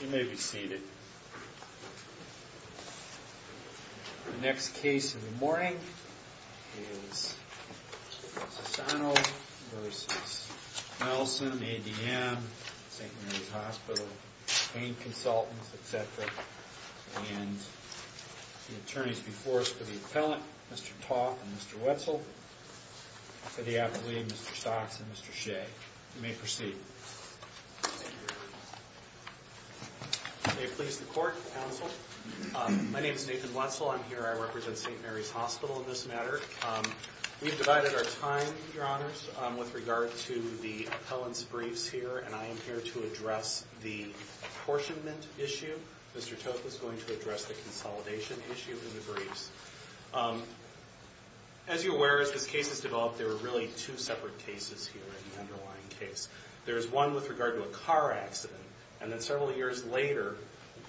You may be seated. The next case of the morning is Sassano v. Nelson, ADM, St. Mary's Hospital, pain consultants, etc. and the attorneys before us for the appellant, Mr. Toth and Mr. Wetzel, for the appellee, Mr. Stocks and Mr. Shea. You may proceed. May it please the court, counsel. My name is Nathan Wetzel. I'm here, I represent St. Mary's Hospital in this matter. We've divided our time, your honors, with regard to the appellant's briefs here and I am here to address the apportionment issue. Mr. Toth is going to address the consolidation issue in the briefs. As you're aware, as this case has developed, there are really two separate cases here in the underlying case. There is one with regard to a car accident and then several years later,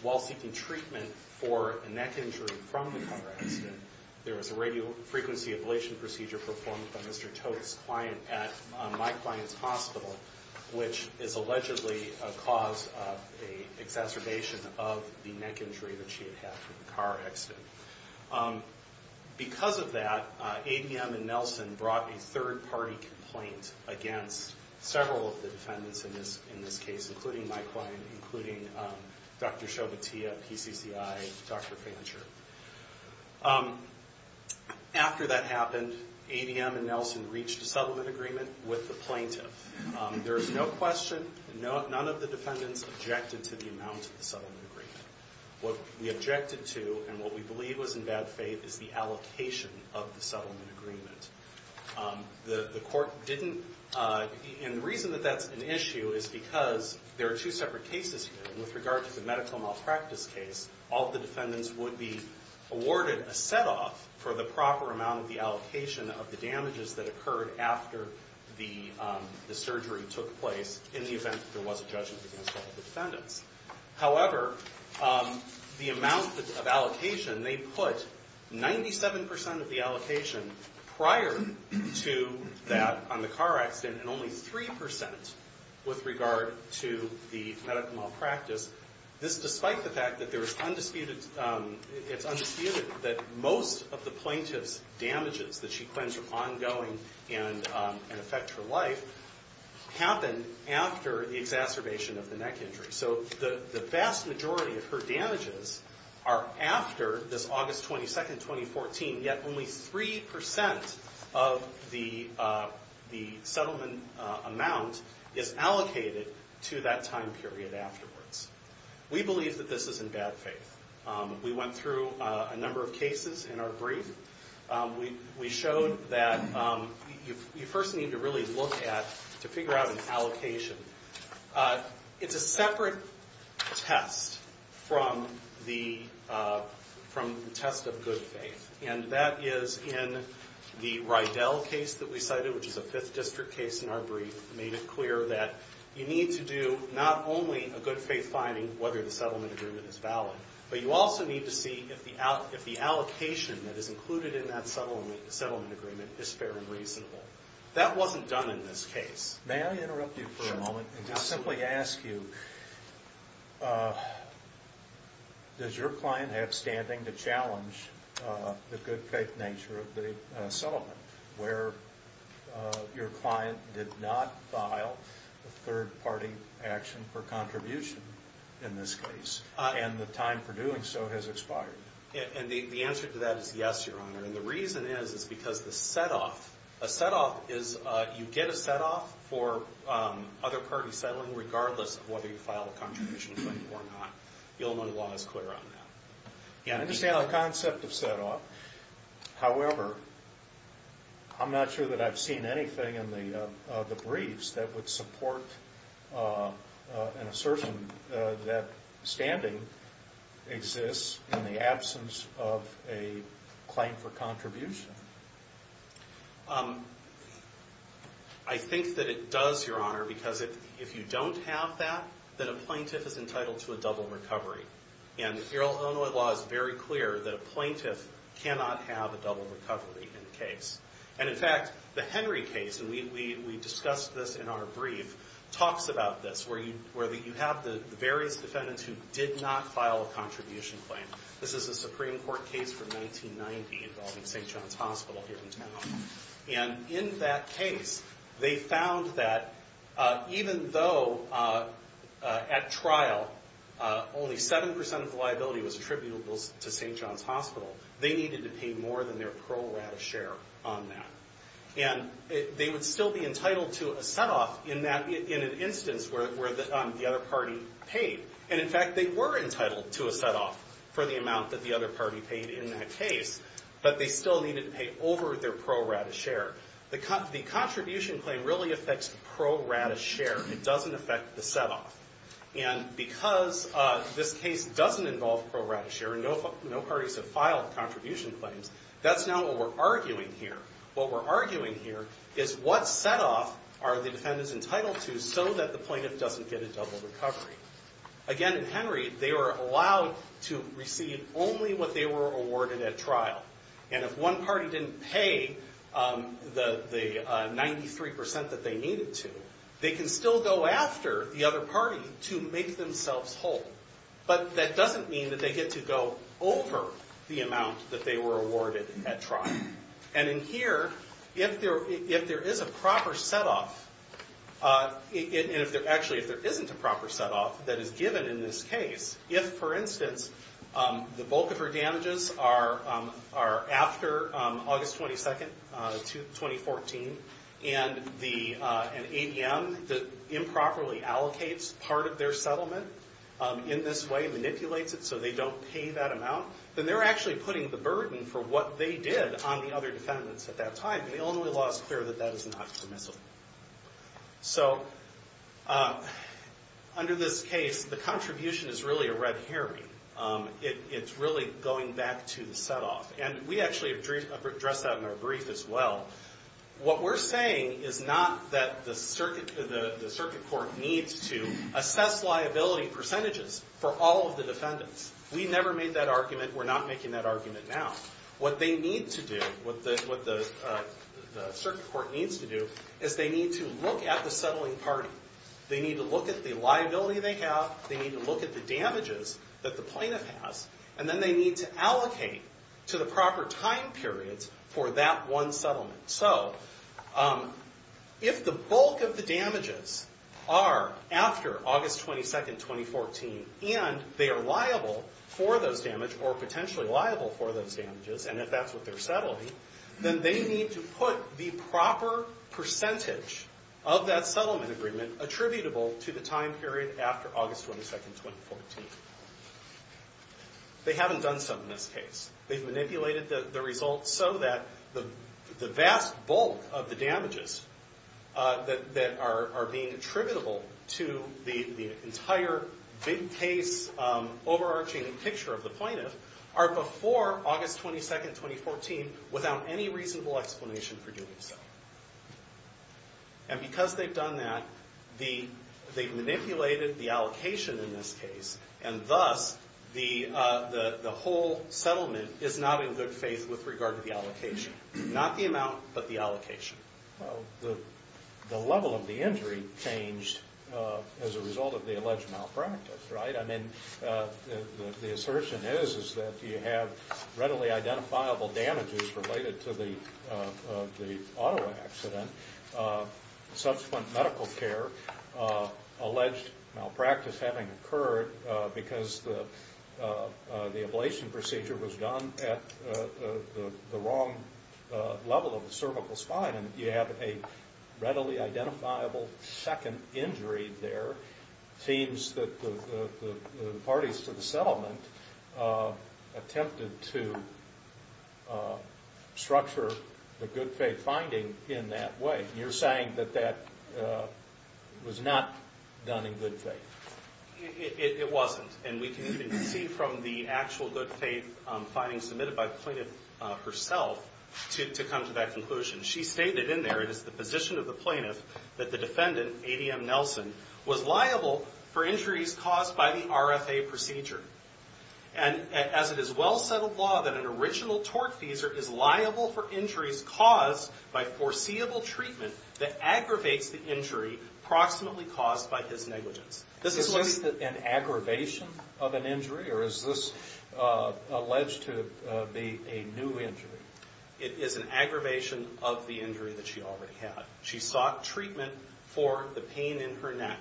while seeking treatment for a neck injury from the car accident, there was a radio frequency ablation procedure performed by Mr. Toth's client at my client's hospital, which is allegedly a cause of an exacerbation of the neck injury that she had had from the car accident. Because of that, ADM and Nelson brought a third-party complaint against several of the defendants in this case, including my client, including Dr. Shobitia, PCCI, Dr. Fancher. After that happened, ADM and Nelson reached a settlement agreement with the plaintiff. There is no question, none of the defendants objected to the amount of the settlement agreement. What we objected to and what we believe was in bad faith is the allocation of the settlement agreement. The court didn't, and the reason that that's an issue is because there are two separate cases here. With regard to the medical malpractice case, all of the defendants would be awarded a set-off for the proper amount of the allocation of the damages that occurred after the surgery took place in the event that there was a judgment against all of the defendants. However, the amount of allocation, they put 97% of the allocation prior to that on the car accident and only 3% with regard to the medical malpractice. This despite the fact that it's undisputed that most of the plaintiff's damages that she claims were ongoing and affect her life happened after the exacerbation of the neck injury. So the vast majority of her damages are after this August 22, 2014, yet only 3% of the settlement amount is allocated to that time period afterwards. We believe that this is in bad faith. We went through a number of cases in our brief. We showed that you first need to really look at, to figure out an allocation. It's a separate test from the test of good faith. And that is in the Rydell case that we cited, which is a 5th District case in our brief, made it clear that you need to do not only a good faith finding, whether the settlement agreement is valid, but you also need to see if the allocation that is included in that settlement agreement is fair and reasonable. That wasn't done in this case. May I interrupt you for a moment and just simply ask you, does your client have standing to challenge the good faith nature of the settlement where your client did not file a third party action for contribution in this case, and the time for doing so has expired? And the answer to that is yes, Your Honor. And the reason is because the set-off, a set-off is you get a set-off for other parties settling, regardless of whether you file a contribution claim or not. You'll know the law is clear on that. I understand the concept of set-off. However, I'm not sure that I've seen anything in the briefs that would support an assertion that standing exists in the absence of a claim for contribution. I think that it does, Your Honor, because if you don't have that, then a plaintiff is entitled to a double recovery. And the Illinois law is very clear that a plaintiff cannot have a double recovery in the case. And in fact, the Henry case, and we discussed this in our brief, talks about this, where you have the various defendants who did not file a contribution claim. This is a Supreme Court case from 1990 involving St. John's Hospital here in town. And in that case, they found that even though at trial only 7% of the liability was attributable to St. John's Hospital, they needed to pay more than their pro rata share on that. And they would still be entitled to a set-off in an instance where the other party paid. And in fact, they were entitled to a set-off for the amount that the other party paid in that case, but they still needed to pay over their pro rata share. The contribution claim really affects pro rata share. It doesn't affect the set-off. And because this case doesn't involve pro rata share, and no parties have filed contribution claims, that's not what we're arguing here. What we're arguing here is what set-off are the defendants entitled to so that the plaintiff doesn't get a double recovery. Again, in Henry, they were allowed to receive only what they were awarded at trial. And if one party didn't pay the 93% that they needed to, they can still go after the other party to make themselves whole. But that doesn't mean that they get to go over the amount that they were awarded at trial. And in here, if there is a proper set-off, and actually if there isn't a proper set-off that is given in this case, if, for instance, the bulk of her damages are after August 22, 2014, and an ADM improperly allocates part of their settlement in this way, manipulates it so they don't pay that amount, then they're actually putting the burden for what they did on the other defendants at that time. The Illinois law is clear that that is not permissible. So under this case, the contribution is really a red herring. It's really going back to the set-off. And we actually addressed that in our brief as well. What we're saying is not that the circuit court needs to assess liability percentages for all of the defendants. We never made that argument. We're not making that argument now. What they need to do, what the circuit court needs to do, is they need to look at the settling party. They need to look at the liability they have. They need to look at the damages that the plaintiff has. And then they need to allocate to the proper time periods for that one settlement. So if the bulk of the damages are after August 22, 2014, and they are liable for those damages, or potentially liable for those damages, and if that's what they're settling, then they need to put the proper percentage of that settlement agreement attributable to the time period after August 22, 2014. They haven't done so in this case. They've manipulated the results so that the vast bulk of the damages that are being attributable to the entire big case overarching picture of the plaintiff are before August 22, 2014 without any reasonable explanation for doing so. And because they've done that, they've manipulated the allocation in this case, and thus the whole settlement is not in good faith with regard to the allocation. Not the amount, but the allocation. Well, the level of the injury changed as a result of the alleged malpractice, right? I mean, the assertion is that you have readily identifiable damages related to the auto accident. Subsequent medical care. Alleged malpractice having occurred because the ablation procedure was done at the wrong level of the cervical spine, and you have a readily identifiable second injury there. It seems that the parties to the settlement attempted to structure the good faith finding in that way. You're saying that that was not done in good faith. It wasn't, and we can even see from the actual good faith findings submitted by the plaintiff herself to come to that conclusion. She stated in there, it is the position of the plaintiff, that the defendant, A.D.M. Nelson, was liable for injuries caused by the RFA procedure. And as it is well-settled law that an original tortfeasor is liable for injuries caused by foreseeable treatment that aggravates the injury approximately caused by his negligence. Is this an aggravation of an injury, or is this alleged to be a new injury? It is an aggravation of the injury that she already had. She sought treatment for the pain in her neck.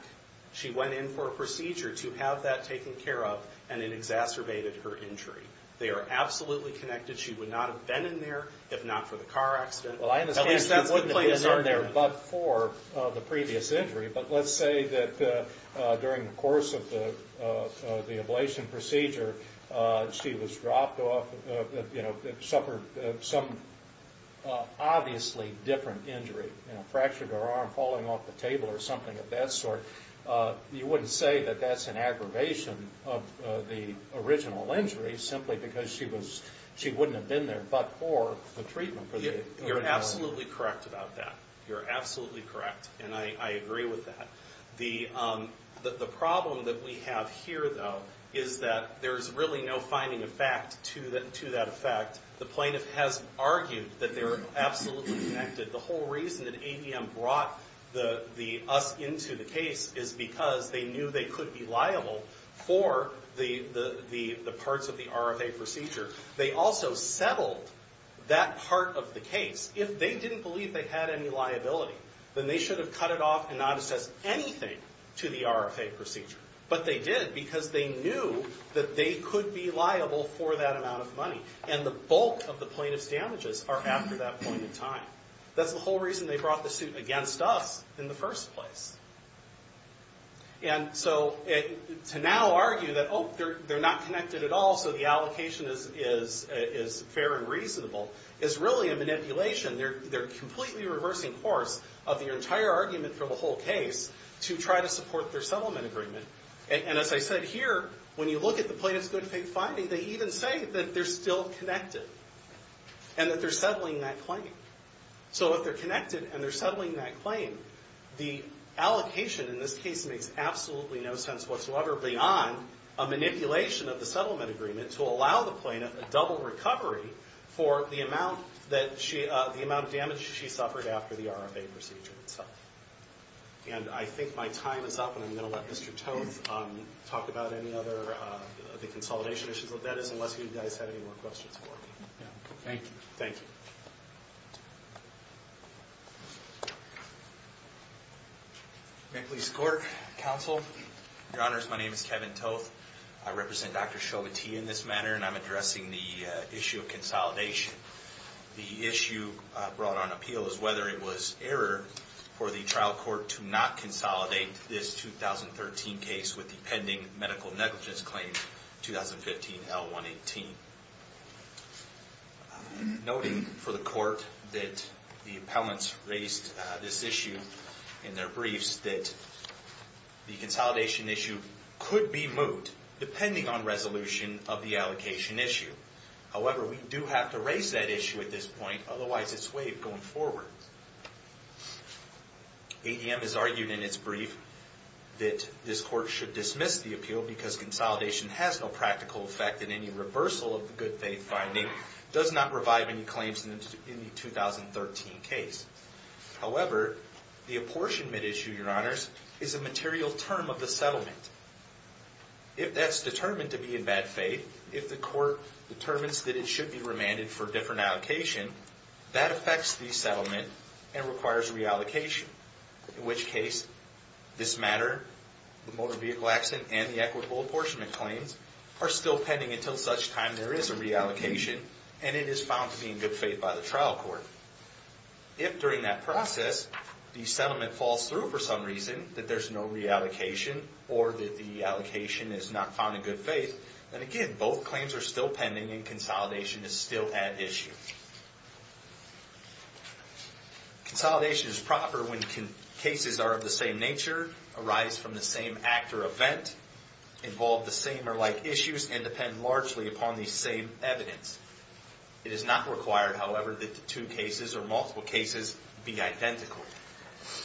She went in for a procedure to have that taken care of, and it exacerbated her injury. They are absolutely connected. She would not have been in there if not for the car accident. At least she wouldn't have been in there but for the previous injury. But let's say that during the course of the ablation procedure, she was dropped off, you know, suffered some obviously different injury, fractured her arm, falling off the table or something of that sort. You wouldn't say that that's an aggravation of the original injury, simply because she wouldn't have been there but for the treatment. You're absolutely correct about that. You're absolutely correct, and I agree with that. The problem that we have here, though, is that there's really no finding of fact to that effect. The plaintiff has argued that they're absolutely connected. The whole reason that AVM brought us into the case is because they knew they could be liable for the parts of the RFA procedure. They also settled that part of the case. If they didn't believe they had any liability, then they should have cut it off and not assessed anything to the RFA procedure. But they did because they knew that they could be liable for that amount of money, and the bulk of the plaintiff's damages are after that point in time. That's the whole reason they brought the suit against us in the first place. To now argue that, oh, they're not connected at all, so the allocation is fair and reasonable, is really a manipulation. They're completely reversing course of the entire argument for the whole case to try to support their settlement agreement. As I said here, when you look at the plaintiff's good faith finding, they even say that they're still connected and that they're settling that claim. If they're connected and they're settling that claim, the allocation in this case makes absolutely no sense whatsoever beyond a manipulation of the settlement agreement to allow the plaintiff a double recovery for the amount of damage she suffered after the RFA procedure itself. I think my time is up, and I'm going to let Mr. Toth talk about any other consolidation issues. That is, unless you guys have any more questions for me. Thank you. Thank you. Maple Leafs Court. Counsel. Your Honors, my name is Kevin Toth. I represent Dr. Chauvetier in this matter, and I'm addressing the issue of consolidation. The issue brought on appeal is whether it was error for the trial court to not consolidate this 2013 case with the pending medical negligence claim, 2015-L-118. Noting for the court that the appellants raised this issue in their briefs, that the consolidation issue could be moved depending on resolution of the allocation issue. However, we do have to raise that issue at this point, otherwise it's waived going forward. ADM has argued in its brief that this court should dismiss the appeal because consolidation has no practical effect in any reversal of the good faith finding, does not revive any claims in the 2013 case. However, the apportionment issue, Your Honors, is a material term of the settlement. If that's determined to be in bad faith, if the court determines that it should be remanded for a different allocation, that affects the settlement and requires reallocation. In which case, this matter, the motor vehicle accident, and the equitable apportionment claims are still pending until such time there is a reallocation, and it is found to be in good faith by the trial court. If during that process, the settlement falls through for some reason, that there's no reallocation, or that the allocation is not found in good faith, then again, both claims are still pending and consolidation is still at issue. Consolidation is proper when cases are of the same nature, arise from the same act or event, involve the same or like issues, and depend largely upon the same evidence. It is not required, however, that the two cases or multiple cases be identical. So,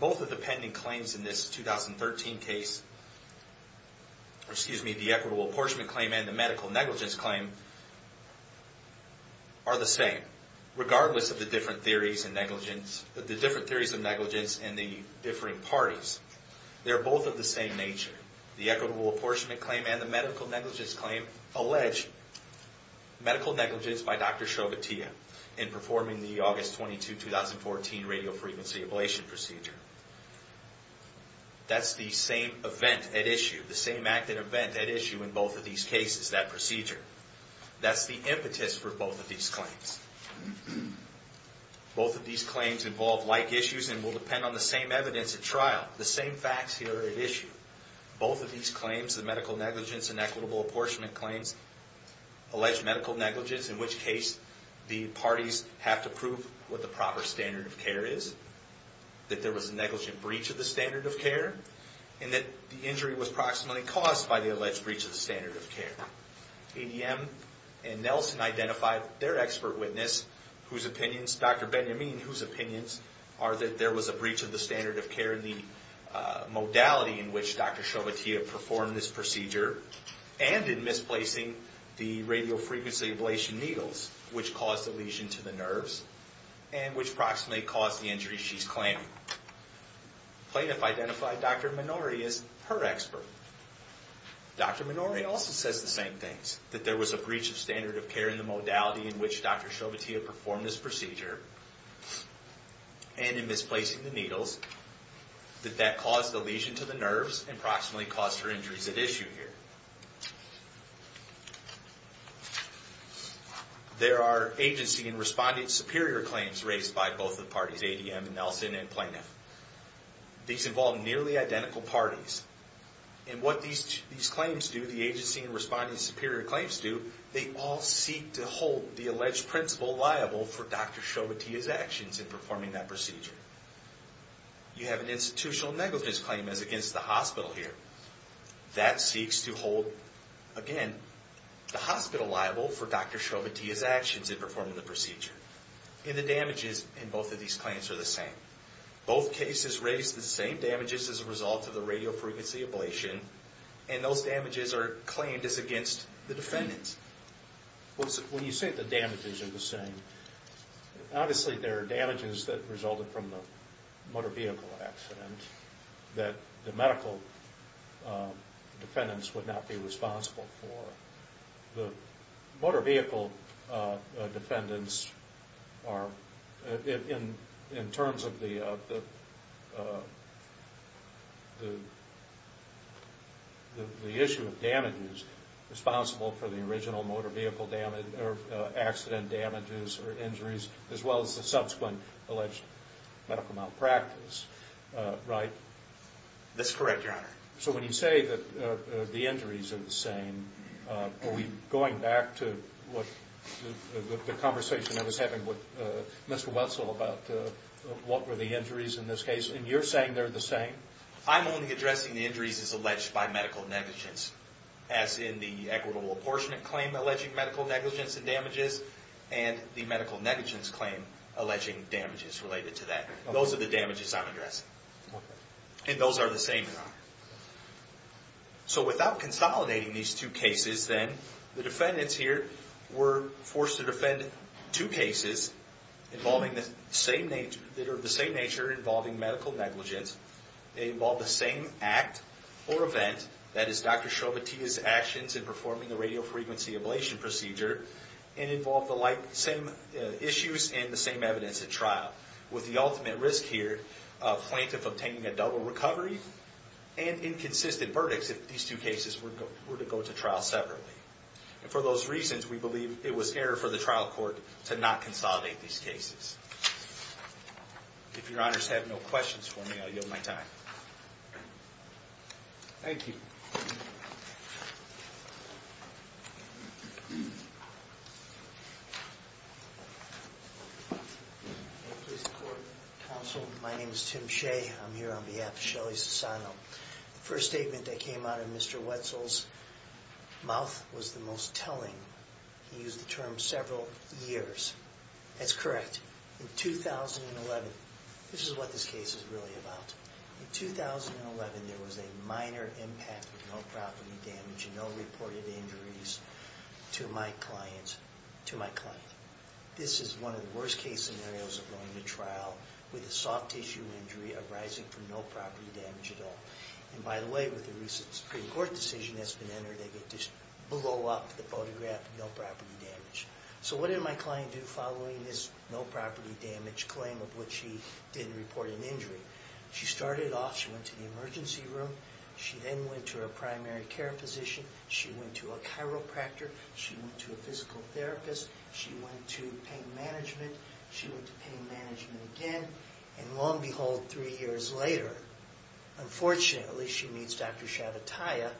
both of the pending claims in this 2013 case, excuse me, the equitable apportionment claim and the medical negligence claim are the same. Regardless of the different theories of negligence and the differing parties, they're both of the same nature. The equitable apportionment claim and the medical negligence claim in performing the August 22, 2014 radiofrequency ablation procedure. That's the same event at issue, the same act and event at issue in both of these cases, that procedure. That's the impetus for both of these claims. Both of these claims involve like issues and will depend on the same evidence at trial, the same facts here at issue. Both of these claims, the medical negligence and equitable apportionment claims, alleged medical negligence, in which case the parties have to prove what the proper standard of care is, that there was a negligent breach of the standard of care, and that the injury was proximately caused by the alleged breach of the standard of care. ADM and Nelson identified their expert witness, Dr. Benjamin, whose opinions are that there was a breach of the standard of care in the modality in which Dr. Chauvetier performed this procedure, and in misplacing the radiofrequency ablation needles, which caused the lesion to the nerves, and which proximately caused the injury she's claiming. Plaintiff identified Dr. Minori as her expert. Dr. Minori also says the same things, that there was a breach of standard of care in the modality in which Dr. Chauvetier performed this procedure, and in misplacing the needles, that that caused the lesion to the nerves, and proximately caused her injuries at issue here. There are agency and respondent superior claims raised by both the parties, ADM and Nelson, and plaintiff. These involve nearly identical parties. And what these claims do, the agency and respondent superior claims do, they all seek to hold the alleged principal liable for Dr. Chauvetier's actions in performing that procedure. You have an institutional negligence claim as against the hospital here. That seeks to hold, again, the hospital liable for Dr. Chauvetier's actions in performing the procedure. And the damages in both of these claims are the same. Both cases raised the same damages as a result of the radiofrequency ablation, and those damages are claimed as against the defendants. When you say the damages are the same, obviously there are damages that resulted from the motor vehicle accident that the medical defendants would not be responsible for. The motor vehicle defendants are, in terms of the issue of damages, responsible for the original motor vehicle accident damages or injuries, as well as the subsequent alleged medical malpractice, right? That's correct, Your Honor. So when you say that the injuries are the same, are we going back to the conversation I was having with Mr. Wetzel about what were the injuries in this case? And you're saying they're the same? I'm only addressing the injuries as alleged by medical negligence, as in the equitable apportionment claim alleging medical negligence and damages, and the medical negligence claim alleging damages related to that. Those are the damages I'm addressing. And those are the same, Your Honor. So without consolidating these two cases, then, the defendants here were forced to defend two cases that are of the same nature, involving medical negligence. They involve the same act or event, that is Dr. Chobotiya's actions in performing the radiofrequency ablation procedure, and involve the same issues and the same evidence at trial, with the ultimate risk here of plaintiff obtaining a double recovery and inconsistent verdicts if these two cases were to go to trial separately. And for those reasons, we believe it was error for the trial court to not consolidate these cases. If Your Honors have no questions for me, I'll yield my time. Thank you. Counsel, my name is Tim Shea. I'm here on behalf of Shelley Sasano. The first statement that came out of Mr. Wetzel's mouth was the most telling. He used the term several years. That's correct. In 2011, this is what this case is really about. In 2011, there was a minor impact with no property damage and no reported injuries to my client. This is one of the worst case scenarios of going to trial with a soft tissue injury arising from no property damage at all. And by the way, with the recent Supreme Court decision that's been entered, they get to blow up the photograph, no property damage. So what did my client do following this no property damage claim of which she didn't report an injury? She started off, she went to the emergency room. She then went to her primary care physician. She went to a chiropractor. She went to a physical therapist. She went to pain management. She went to pain management again. And lo and behold, three years later, unfortunately, she meets Dr. Shabatiya,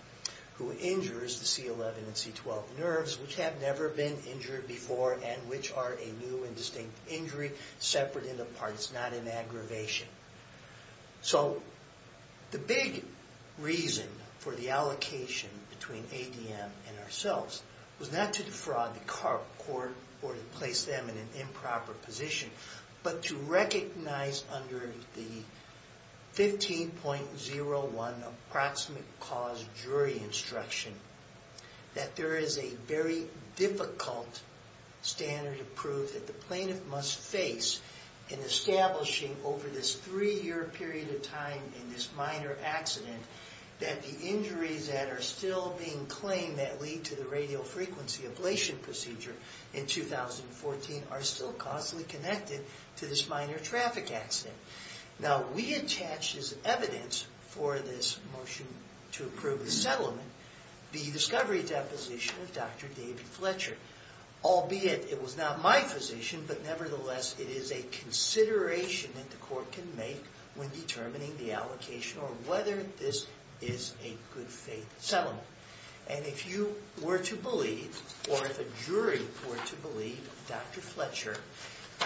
who injures the C11 and C12 nerves, which have never been injured before and which are a new and distinct injury, separate in the parts, not in aggravation. So the big reason for the allocation between ADM and ourselves was not to defraud the court or to place them in an improper position, but to recognize under the 15.01 Approximate Cause Jury Instruction that there is a very difficult standard of proof that the plaintiff must face in establishing over this three-year period of time in this minor accident that the injuries that are still being claimed that lead to the radiofrequency ablation procedure in 2014 are still constantly connected to this minor traffic accident. Now, we attached as evidence for this motion to approve the settlement the discovery deposition of Dr. David Fletcher. Albeit it was not my position, but nevertheless it is a consideration that the court can make when determining the allocation or whether this is a good-faith settlement. And if you were to believe, or if a jury were to believe Dr. Fletcher,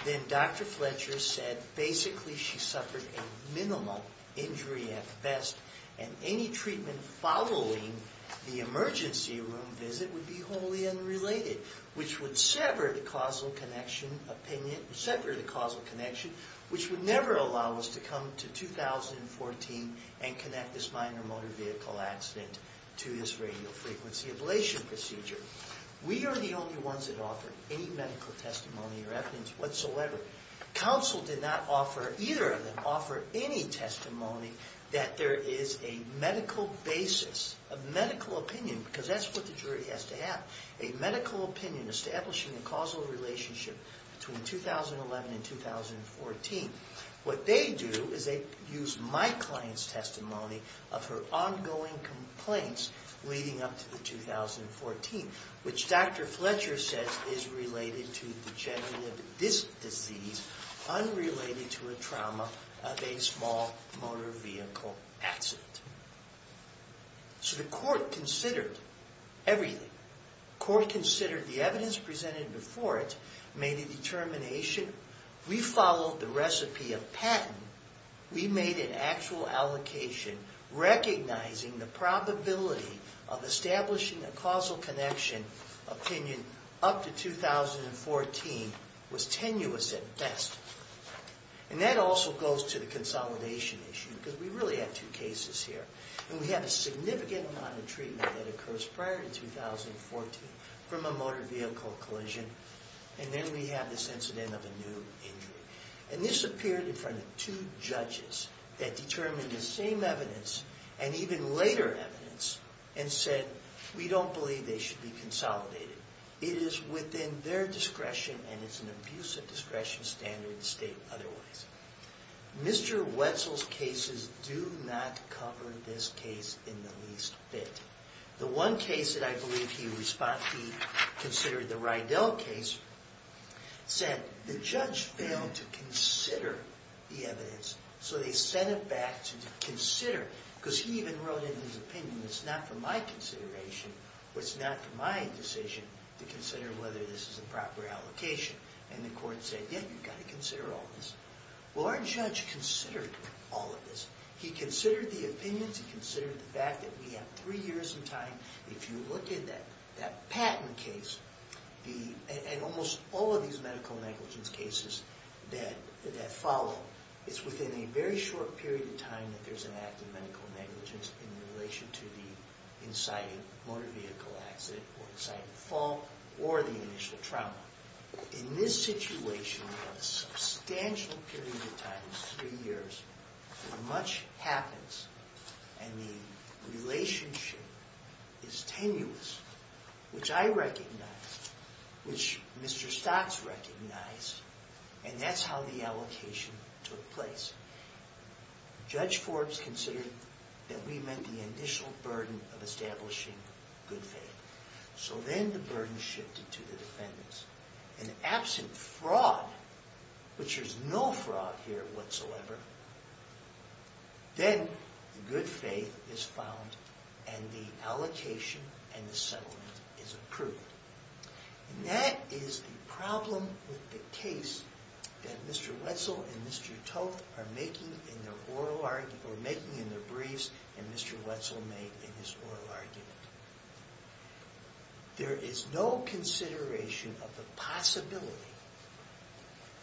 then Dr. Fletcher said basically she suffered a minimal injury at best and any treatment following the emergency room visit would be wholly unrelated, which would sever the causal connection, which would never allow us to come to 2014 and connect this minor motor vehicle accident to this radiofrequency ablation procedure. We are the only ones that offer any medical testimony or evidence whatsoever. Counsel did not offer, either of them, offer any testimony that there is a medical basis, a medical opinion, because that's what the jury has to have, a medical opinion establishing a causal relationship between 2011 and 2014. What they do is they use my client's testimony of her ongoing complaints leading up to the 2014, which Dr. Fletcher says is related to the general of this disease, unrelated to a trauma of a small motor vehicle accident. So the court considered everything. The court considered the evidence presented before it, made a determination, we followed the recipe of patent, we made an actual allocation recognizing the probability of establishing a causal connection opinion up to 2014 was tenuous at best. And that also goes to the consolidation issue, because we really have two cases here. And we have a significant amount of treatment that occurs prior to 2014 from a motor vehicle collision, and then we have this incident of a new injury. And this appeared in front of two judges that determined the same evidence and even later evidence and said we don't believe they should be consolidated. It is within their discretion and it's an abusive discretion standard to state otherwise. Mr. Wetzel's cases do not cover this case in the least bit. The one case that I believe he considered, the Rydell case, said the judge failed to consider the evidence, so they sent it back to consider, because he even wrote in his opinion, it's not for my consideration, it's not my decision to consider whether this is a proper allocation. And the court said, yeah, you've got to consider all this. Well, our judge considered all of this. He considered the opinions, he considered the fact that we have three years in time. If you look at that Patton case and almost all of these medical negligence cases that follow, it's within a very short period of time that there's an act of medical negligence in relation to the inciting motor vehicle accident or inciting fall or the initial trauma. In this situation, we've got a substantial period of time, three years, where much happens and the relationship is tenuous, which I recognize, which Mr. Stocks recognized, and that's how the allocation took place. Judge Forbes considered that we met the initial burden of establishing good faith. So then the burden shifted to the defendants. And absent fraud, which there's no fraud here whatsoever, then good faith is found and the allocation and the settlement is approved. And that is the problem with the case that Mr. Wetzel and Mr. Toth are making in their oral argument, or making in their briefs, and Mr. Wetzel made in his oral argument. There is no consideration of the possibility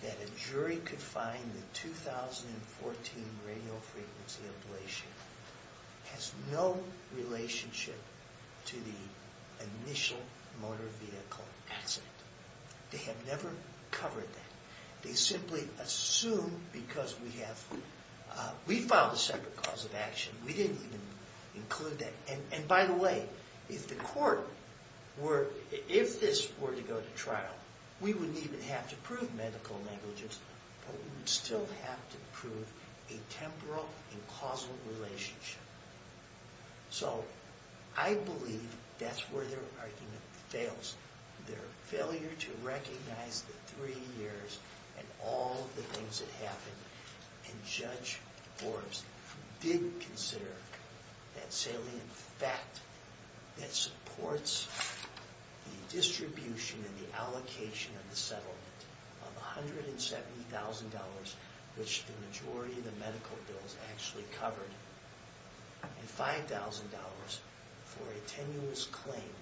that a jury could find the 2014 radiofrequency ablation has no relationship to the initial motor vehicle accident. They have never covered that. They simply assume because we have... We filed a separate cause of action. We didn't even include that. And by the way, if the court were... If this were to go to trial, we wouldn't even have to prove medical negligence, but we would still have to prove a temporal and causal relationship. So I believe that's where their argument fails. Their failure to recognize the three years and all the things that happened, and Judge Forbes did consider that salient fact that supports the distribution and the allocation of the settlement of $170,000, which the majority of the medical bills actually covered, and $5,000 for a tenuous claim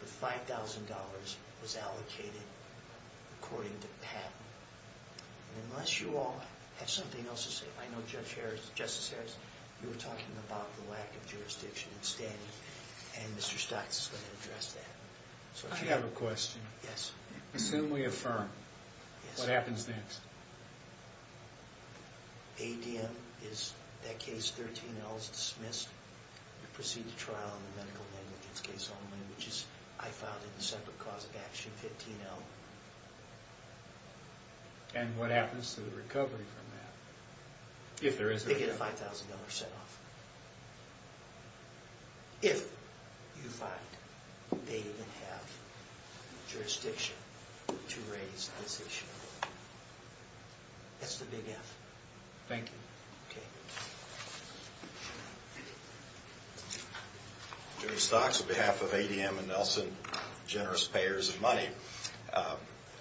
that $5,000 was allocated according to patent. Unless you all have something else to say. I know, Justice Harris, you were talking about the lack of jurisdiction and standing, and Mr. Stites is going to address that. I have a question. Yes. Assume we affirm. Yes. What happens next? ADM, is that case, 13L, is dismissed. We proceed to trial on the medical negligence case only, which I filed as a separate cause of action, 15L. And what happens to the recovery from that? If there is a recovery. They get a $5,000 set off. If you find they even have jurisdiction to raise that issue. That's the big F. Thank you. Okay. Attorney Stocks, on behalf of ADM and Nelson, generous payers of money,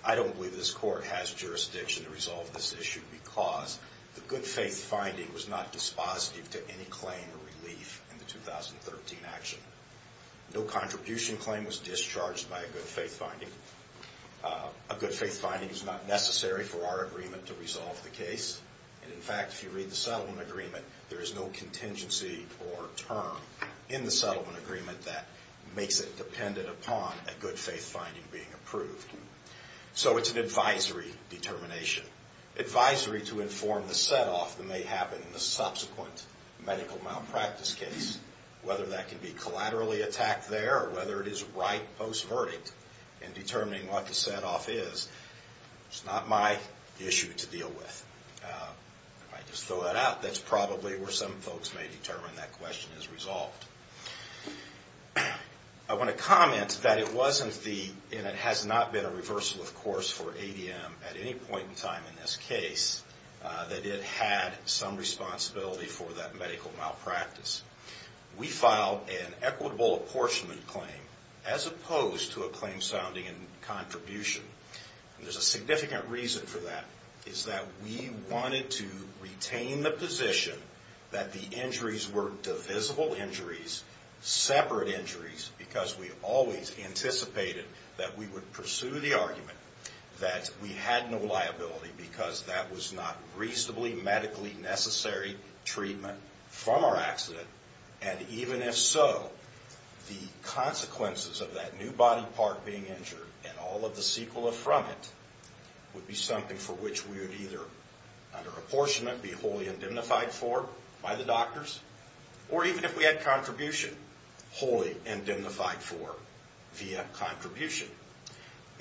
I don't believe this court has jurisdiction to resolve this issue because the good faith finding was not dispositive to any claim or relief in the 2013 action. No contribution claim was discharged by a good faith finding. A good faith finding is not necessary for our agreement to resolve the case. And, in fact, if you read the settlement agreement, there is no contingency or term in the settlement agreement that makes it dependent upon a good faith finding being approved. So it's an advisory determination, advisory to inform the set off that may happen in the subsequent medical malpractice case. Whether that can be collaterally attacked there or whether it is right post-verdict in determining what the set off is, it's not my issue to deal with. If I just throw that out, that's probably where some folks may determine that question is resolved. I want to comment that it wasn't the, and it has not been a reversal of course for ADM at any point in time in this case, that it had some responsibility for that medical malpractice. We filed an equitable apportionment claim as opposed to a claim sounding in contribution. And there's a significant reason for that. It's that we wanted to retain the position that the injuries were divisible injuries, separate injuries because we always anticipated that we would pursue the argument that we had no liability because that was not reasonably medically necessary treatment from our accident. And even if so, the consequences of that new body part being injured and all of the sequelae from it would be something for which we would either, under apportionment, be wholly indemnified for by the doctors or even if we had contribution, wholly indemnified for via contribution.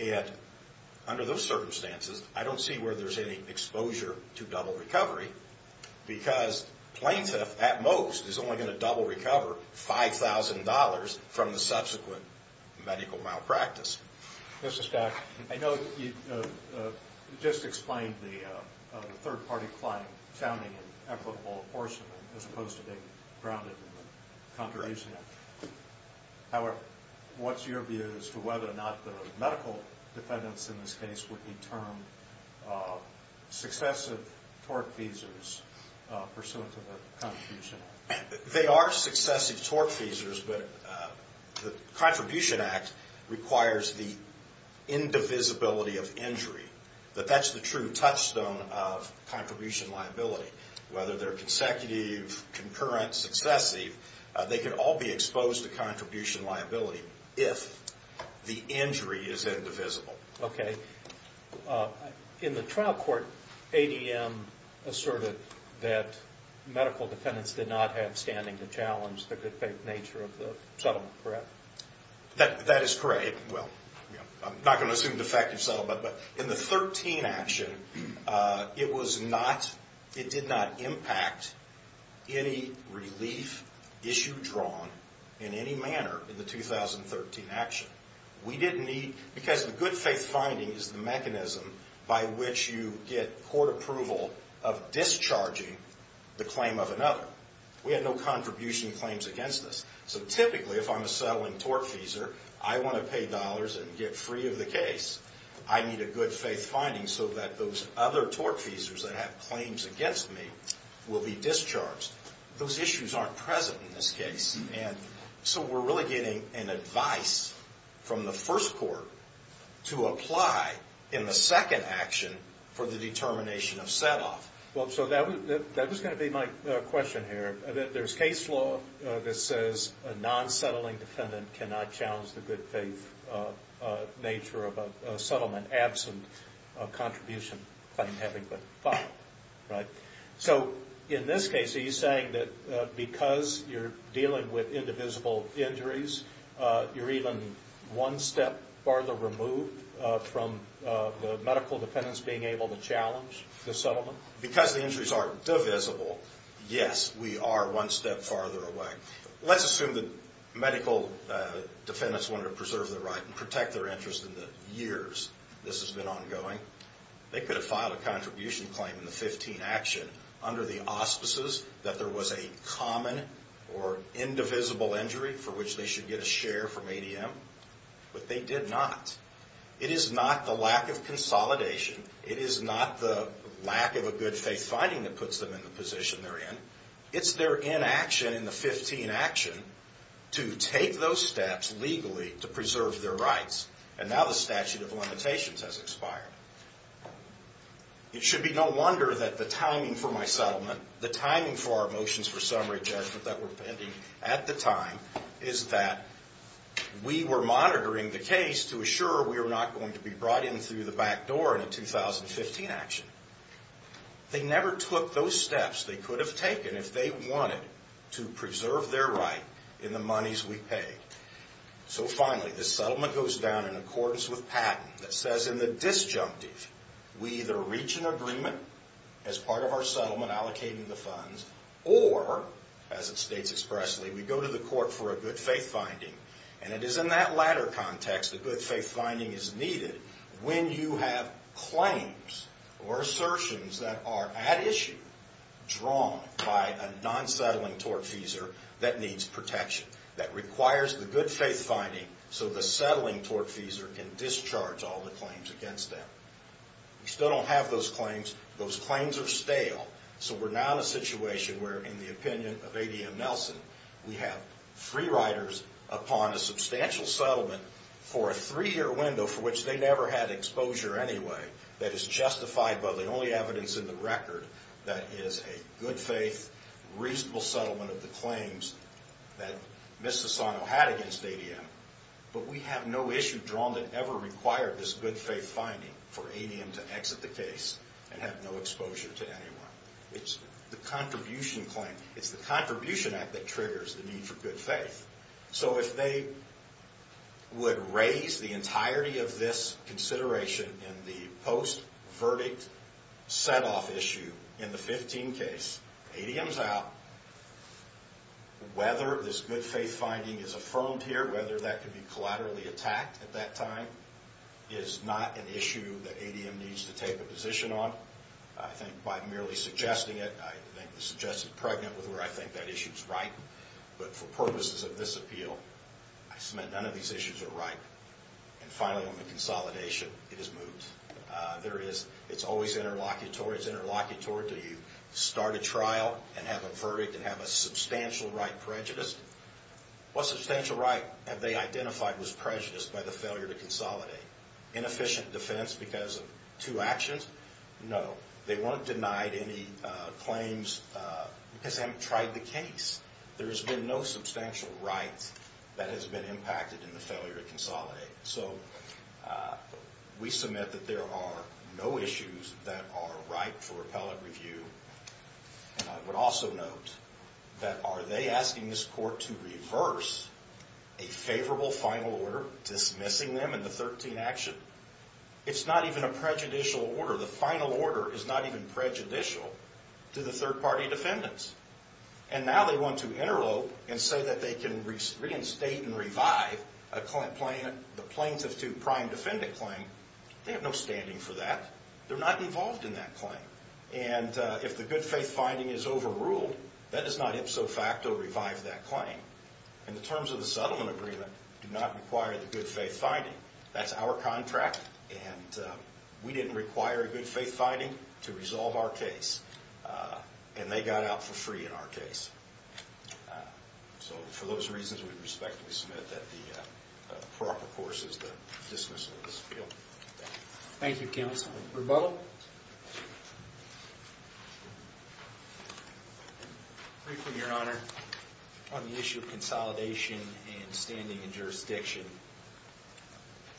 And under those circumstances, I don't see where there's any exposure to double recovery because plaintiff at most is only going to double recover $5,000 from the subsequent medical malpractice. Mr. Stack, I know that you just explained the third-party claim sounding in equitable apportionment as opposed to being grounded in contribution. However, what's your view as to whether or not the medical defendants in this case would be termed successive tortfeasors pursuant to the Contribution Act? They are successive tortfeasors, but the Contribution Act requires the indivisibility of injury. But that's the true touchstone of contribution liability. Whether they're consecutive, concurrent, successive, they can all be exposed to contribution liability if the injury is indivisible. Okay. In the trial court, ADM asserted that medical defendants did not have standing to challenge the good faith nature of the settlement, correct? That is correct. I'm not going to assume defective settlement, but in the 2013 action, it did not impact any relief issue drawn in any manner in the 2013 action. Because the good faith finding is the mechanism by which you get court approval of discharging the claim of another. We had no contribution claims against us. So typically, if I'm a settling tortfeasor, I want to pay dollars and get free of the case. I need a good faith finding so that those other tortfeasors that have claims against me will be discharged. Those issues aren't present in this case. So we're really getting an advice from the first court to apply in the second action for the determination of set-off. That was going to be my question here. There's case law that says a non-settling defendant cannot challenge the good faith nature of a settlement absent a contribution claim having been filed. So in this case, are you saying that because you're dealing with indivisible injuries, you're even one step farther removed from the medical defendants being able to challenge the settlement? Because the injuries are divisible, yes, we are one step farther away. Let's assume that medical defendants wanted to preserve their right and protect their interest in the years this has been ongoing. They could have filed a contribution claim in the 15 action under the auspices that there was a common or indivisible injury for which they should get a share from ADM. But they did not. It is not the lack of consolidation. It is not the lack of a good faith finding that puts them in the position they're in. It's their inaction in the 15 action to take those steps legally to preserve their rights. And now the statute of limitations has expired. It should be no wonder that the timing for my settlement, the timing for our motions for summary judgment that were pending at the time, is that we were monitoring the case to assure we were not going to be brought in through the back door in a 2015 action. They never took those steps they could have taken if they wanted to preserve their right in the monies we pay. So finally, the settlement goes down in accordance with patent that says in the disjunctive we either reach an agreement as part of our settlement allocating the funds or, as it states expressly, we go to the court for a good faith finding. And it is in that latter context a good faith finding is needed when you have claims or assertions that are at issue drawn by a non-settling tortfeasor that needs protection, that requires the good faith finding, so the settling tortfeasor can discharge all the claims against them. We still don't have those claims. Those claims are stale. So we're now in a situation where, in the opinion of A.D.M. Nelson, we have free riders upon a substantial settlement for a three-year window for which they never had exposure anyway that is justified by the only evidence in the record that is a good faith, reasonable settlement of the claims that Ms. Sassano had against A.D.M. But we have no issue drawn that ever required this good faith finding for A.D.M. to exit the case and have no exposure to anyone. It's the contribution claim. It's the contribution act that triggers the need for good faith. So if they would raise the entirety of this consideration in the post-verdict set-off issue in the 15 case, A.D.M. is out. Whether this good faith finding is affirmed here, whether that could be collaterally attacked at that time, is not an issue that A.D.M. needs to take a position on. I think by merely suggesting it, I think the suggestion is pregnant with where I think that issue is right. But for purposes of this appeal, I submit none of these issues are right. And finally, on the consolidation, it is moved. It's always interlocutory. It's interlocutory until you start a trial and have a verdict and have a substantial right prejudice. What substantial right have they identified was prejudiced by the failure to consolidate? Inefficient defense because of two actions? No. They weren't denied any claims because they haven't tried the case. There has been no substantial right that has been impacted in the failure to consolidate. So we submit that there are no issues that are right for appellate review. And I would also note that are they asking this court to reverse a favorable final order dismissing them in the 13 action? It's not even a prejudicial order. The final order is not even prejudicial to the third-party defendants. And now they want to interlope and say that they can reinstate and revive the plaintiff to prime defendant claim. They have no standing for that. They're not involved in that claim. And if the good faith finding is overruled, that does not ipso facto revive that claim. And the terms of the settlement agreement do not require the good faith finding. That's our contract, and we didn't require a good faith finding to resolve our case. And they got out for free in our case. So for those reasons, we respectfully submit that the proper course is the dismissal of this appeal. Thank you. Thank you, counsel. Rebella? Briefing, Your Honor, on the issue of consolidation and standing in jurisdiction.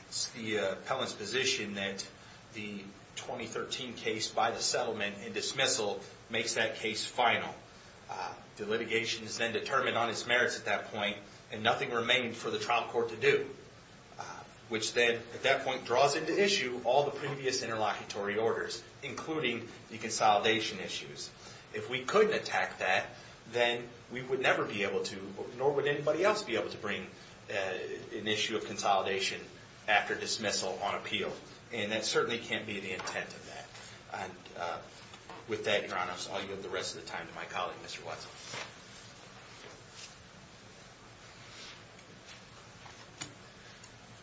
It's the appellant's position that the 2013 case by the settlement and dismissal makes that case final. The litigation is then determined on its merits at that point, and nothing remained for the trial court to do, which then at that point draws into issue all the previous interlocutory orders, including the consolidation issues. If we couldn't attack that, then we would never be able to, nor would anybody else be able to bring an issue of consolidation after dismissal on appeal. And that certainly can't be the intent of that. With that, Your Honor, I'll give the rest of the time to my colleague, Mr. Watson.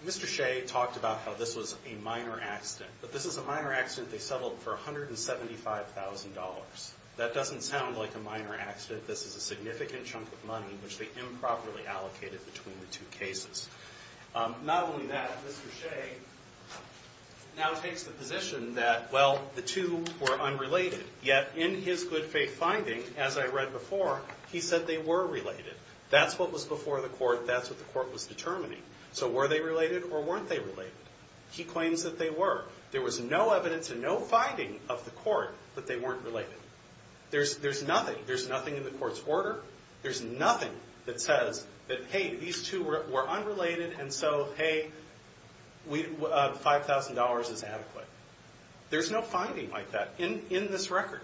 Mr. Shea talked about how this was a minor accident, but this is a minor accident they settled for $175,000. That doesn't sound like a minor accident. This is a significant chunk of money which they improperly allocated between the two cases. Not only that, Mr. Shea now takes the position that, well, the two were unrelated, yet in his good faith finding, as I read before, he said they were related. That's what was before the court. That's what the court was determining. So were they related or weren't they related? He claims that they were. There was no evidence and no finding of the court that they weren't related. There's nothing. There's nothing in the court's order. There's nothing that says that, hey, these two were unrelated, and so, hey, $5,000 is adequate. There's no finding like that in this record.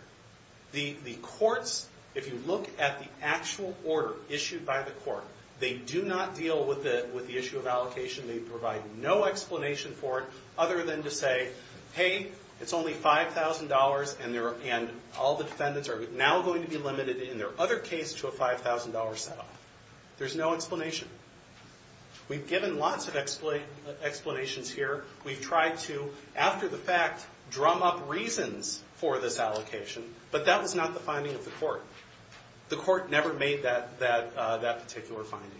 The courts, if you look at the actual order issued by the court, they do not deal with the issue of allocation. They provide no explanation for it other than to say, hey, it's only $5,000 and all the defendants are now going to be limited in their other case to a $5,000 set-off. There's no explanation. We've given lots of explanations here. We've tried to, after the fact, drum up reasons for this allocation, but that was not the finding of the court. The court never made that particular finding.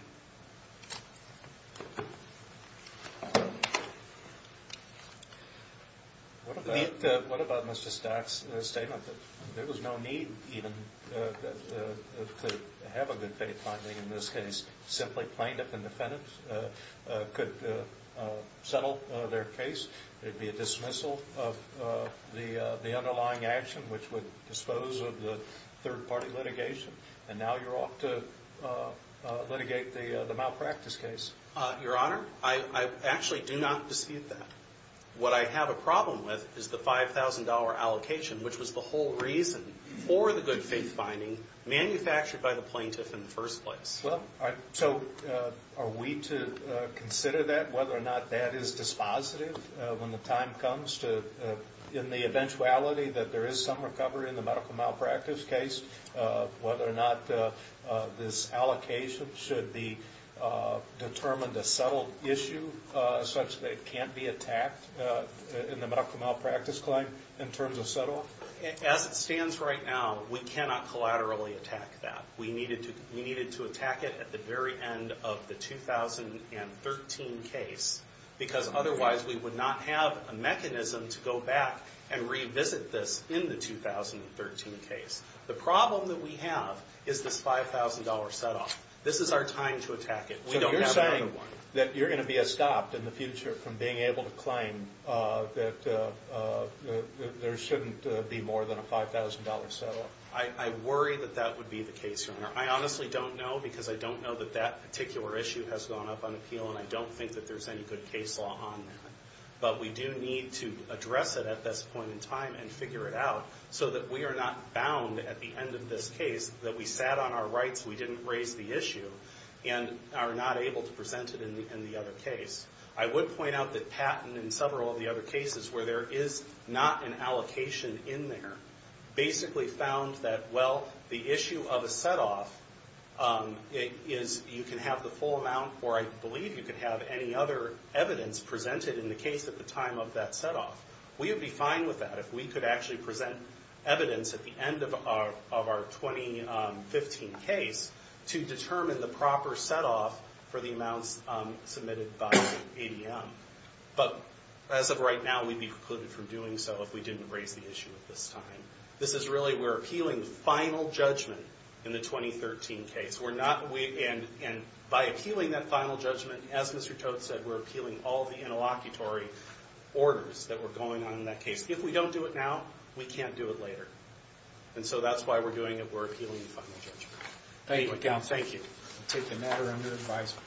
Thank you. What about Mr. Stack's statement that there was no need even to have a good faith finding in this case? Simply plaintiff and defendant could settle their case. There would be a dismissal of the underlying action, which would dispose of the third-party litigation, and now you're off to litigate the malpractice case. Your Honor, I actually do not dispute that. What I have a problem with is the $5,000 allocation, which was the whole reason for the good faith finding, manufactured by the plaintiff in the first place. So are we to consider that, whether or not that is dispositive when the time this allocation should be determined a settled issue, such that it can't be attacked in the medical malpractice claim, in terms of set-off? As it stands right now, we cannot collaterally attack that. We needed to attack it at the very end of the 2013 case, because otherwise we would not have a mechanism to go back and revisit this in the 2013 case. The problem that we have is this $5,000 set-off. This is our time to attack it. We don't have another one. So you're saying that you're going to be stopped in the future from being able to claim that there shouldn't be more than a $5,000 set-off? I worry that that would be the case, Your Honor. I honestly don't know, because I don't know that that particular issue has gone up on appeal, and I don't think that there's any good case law on that. But we do need to address it at this point in time and figure it out, so that we are not bound at the end of this case that we sat on our rights, we didn't raise the issue, and are not able to present it in the other case. I would point out that Patton, in several of the other cases, where there is not an allocation in there, basically found that, well, the issue of a set-off is you can have the full amount, or I believe you can have any other evidence presented in the case at the time of that set-off. We would be fine with that if we could actually present evidence at the end of our 2015 case to determine the proper set-off for the amounts submitted by ADM. But as of right now, we'd be precluded from doing so if we didn't raise the issue at this time. This is really, we're appealing final judgment in the 2013 case. We're not, and by appealing that final judgment, as Mr. Tote said, we're appealing all the interlocutory orders that were going on in that case. If we don't do it now, we can't do it later. And so that's why we're doing it, we're appealing the final judgment. Thank you.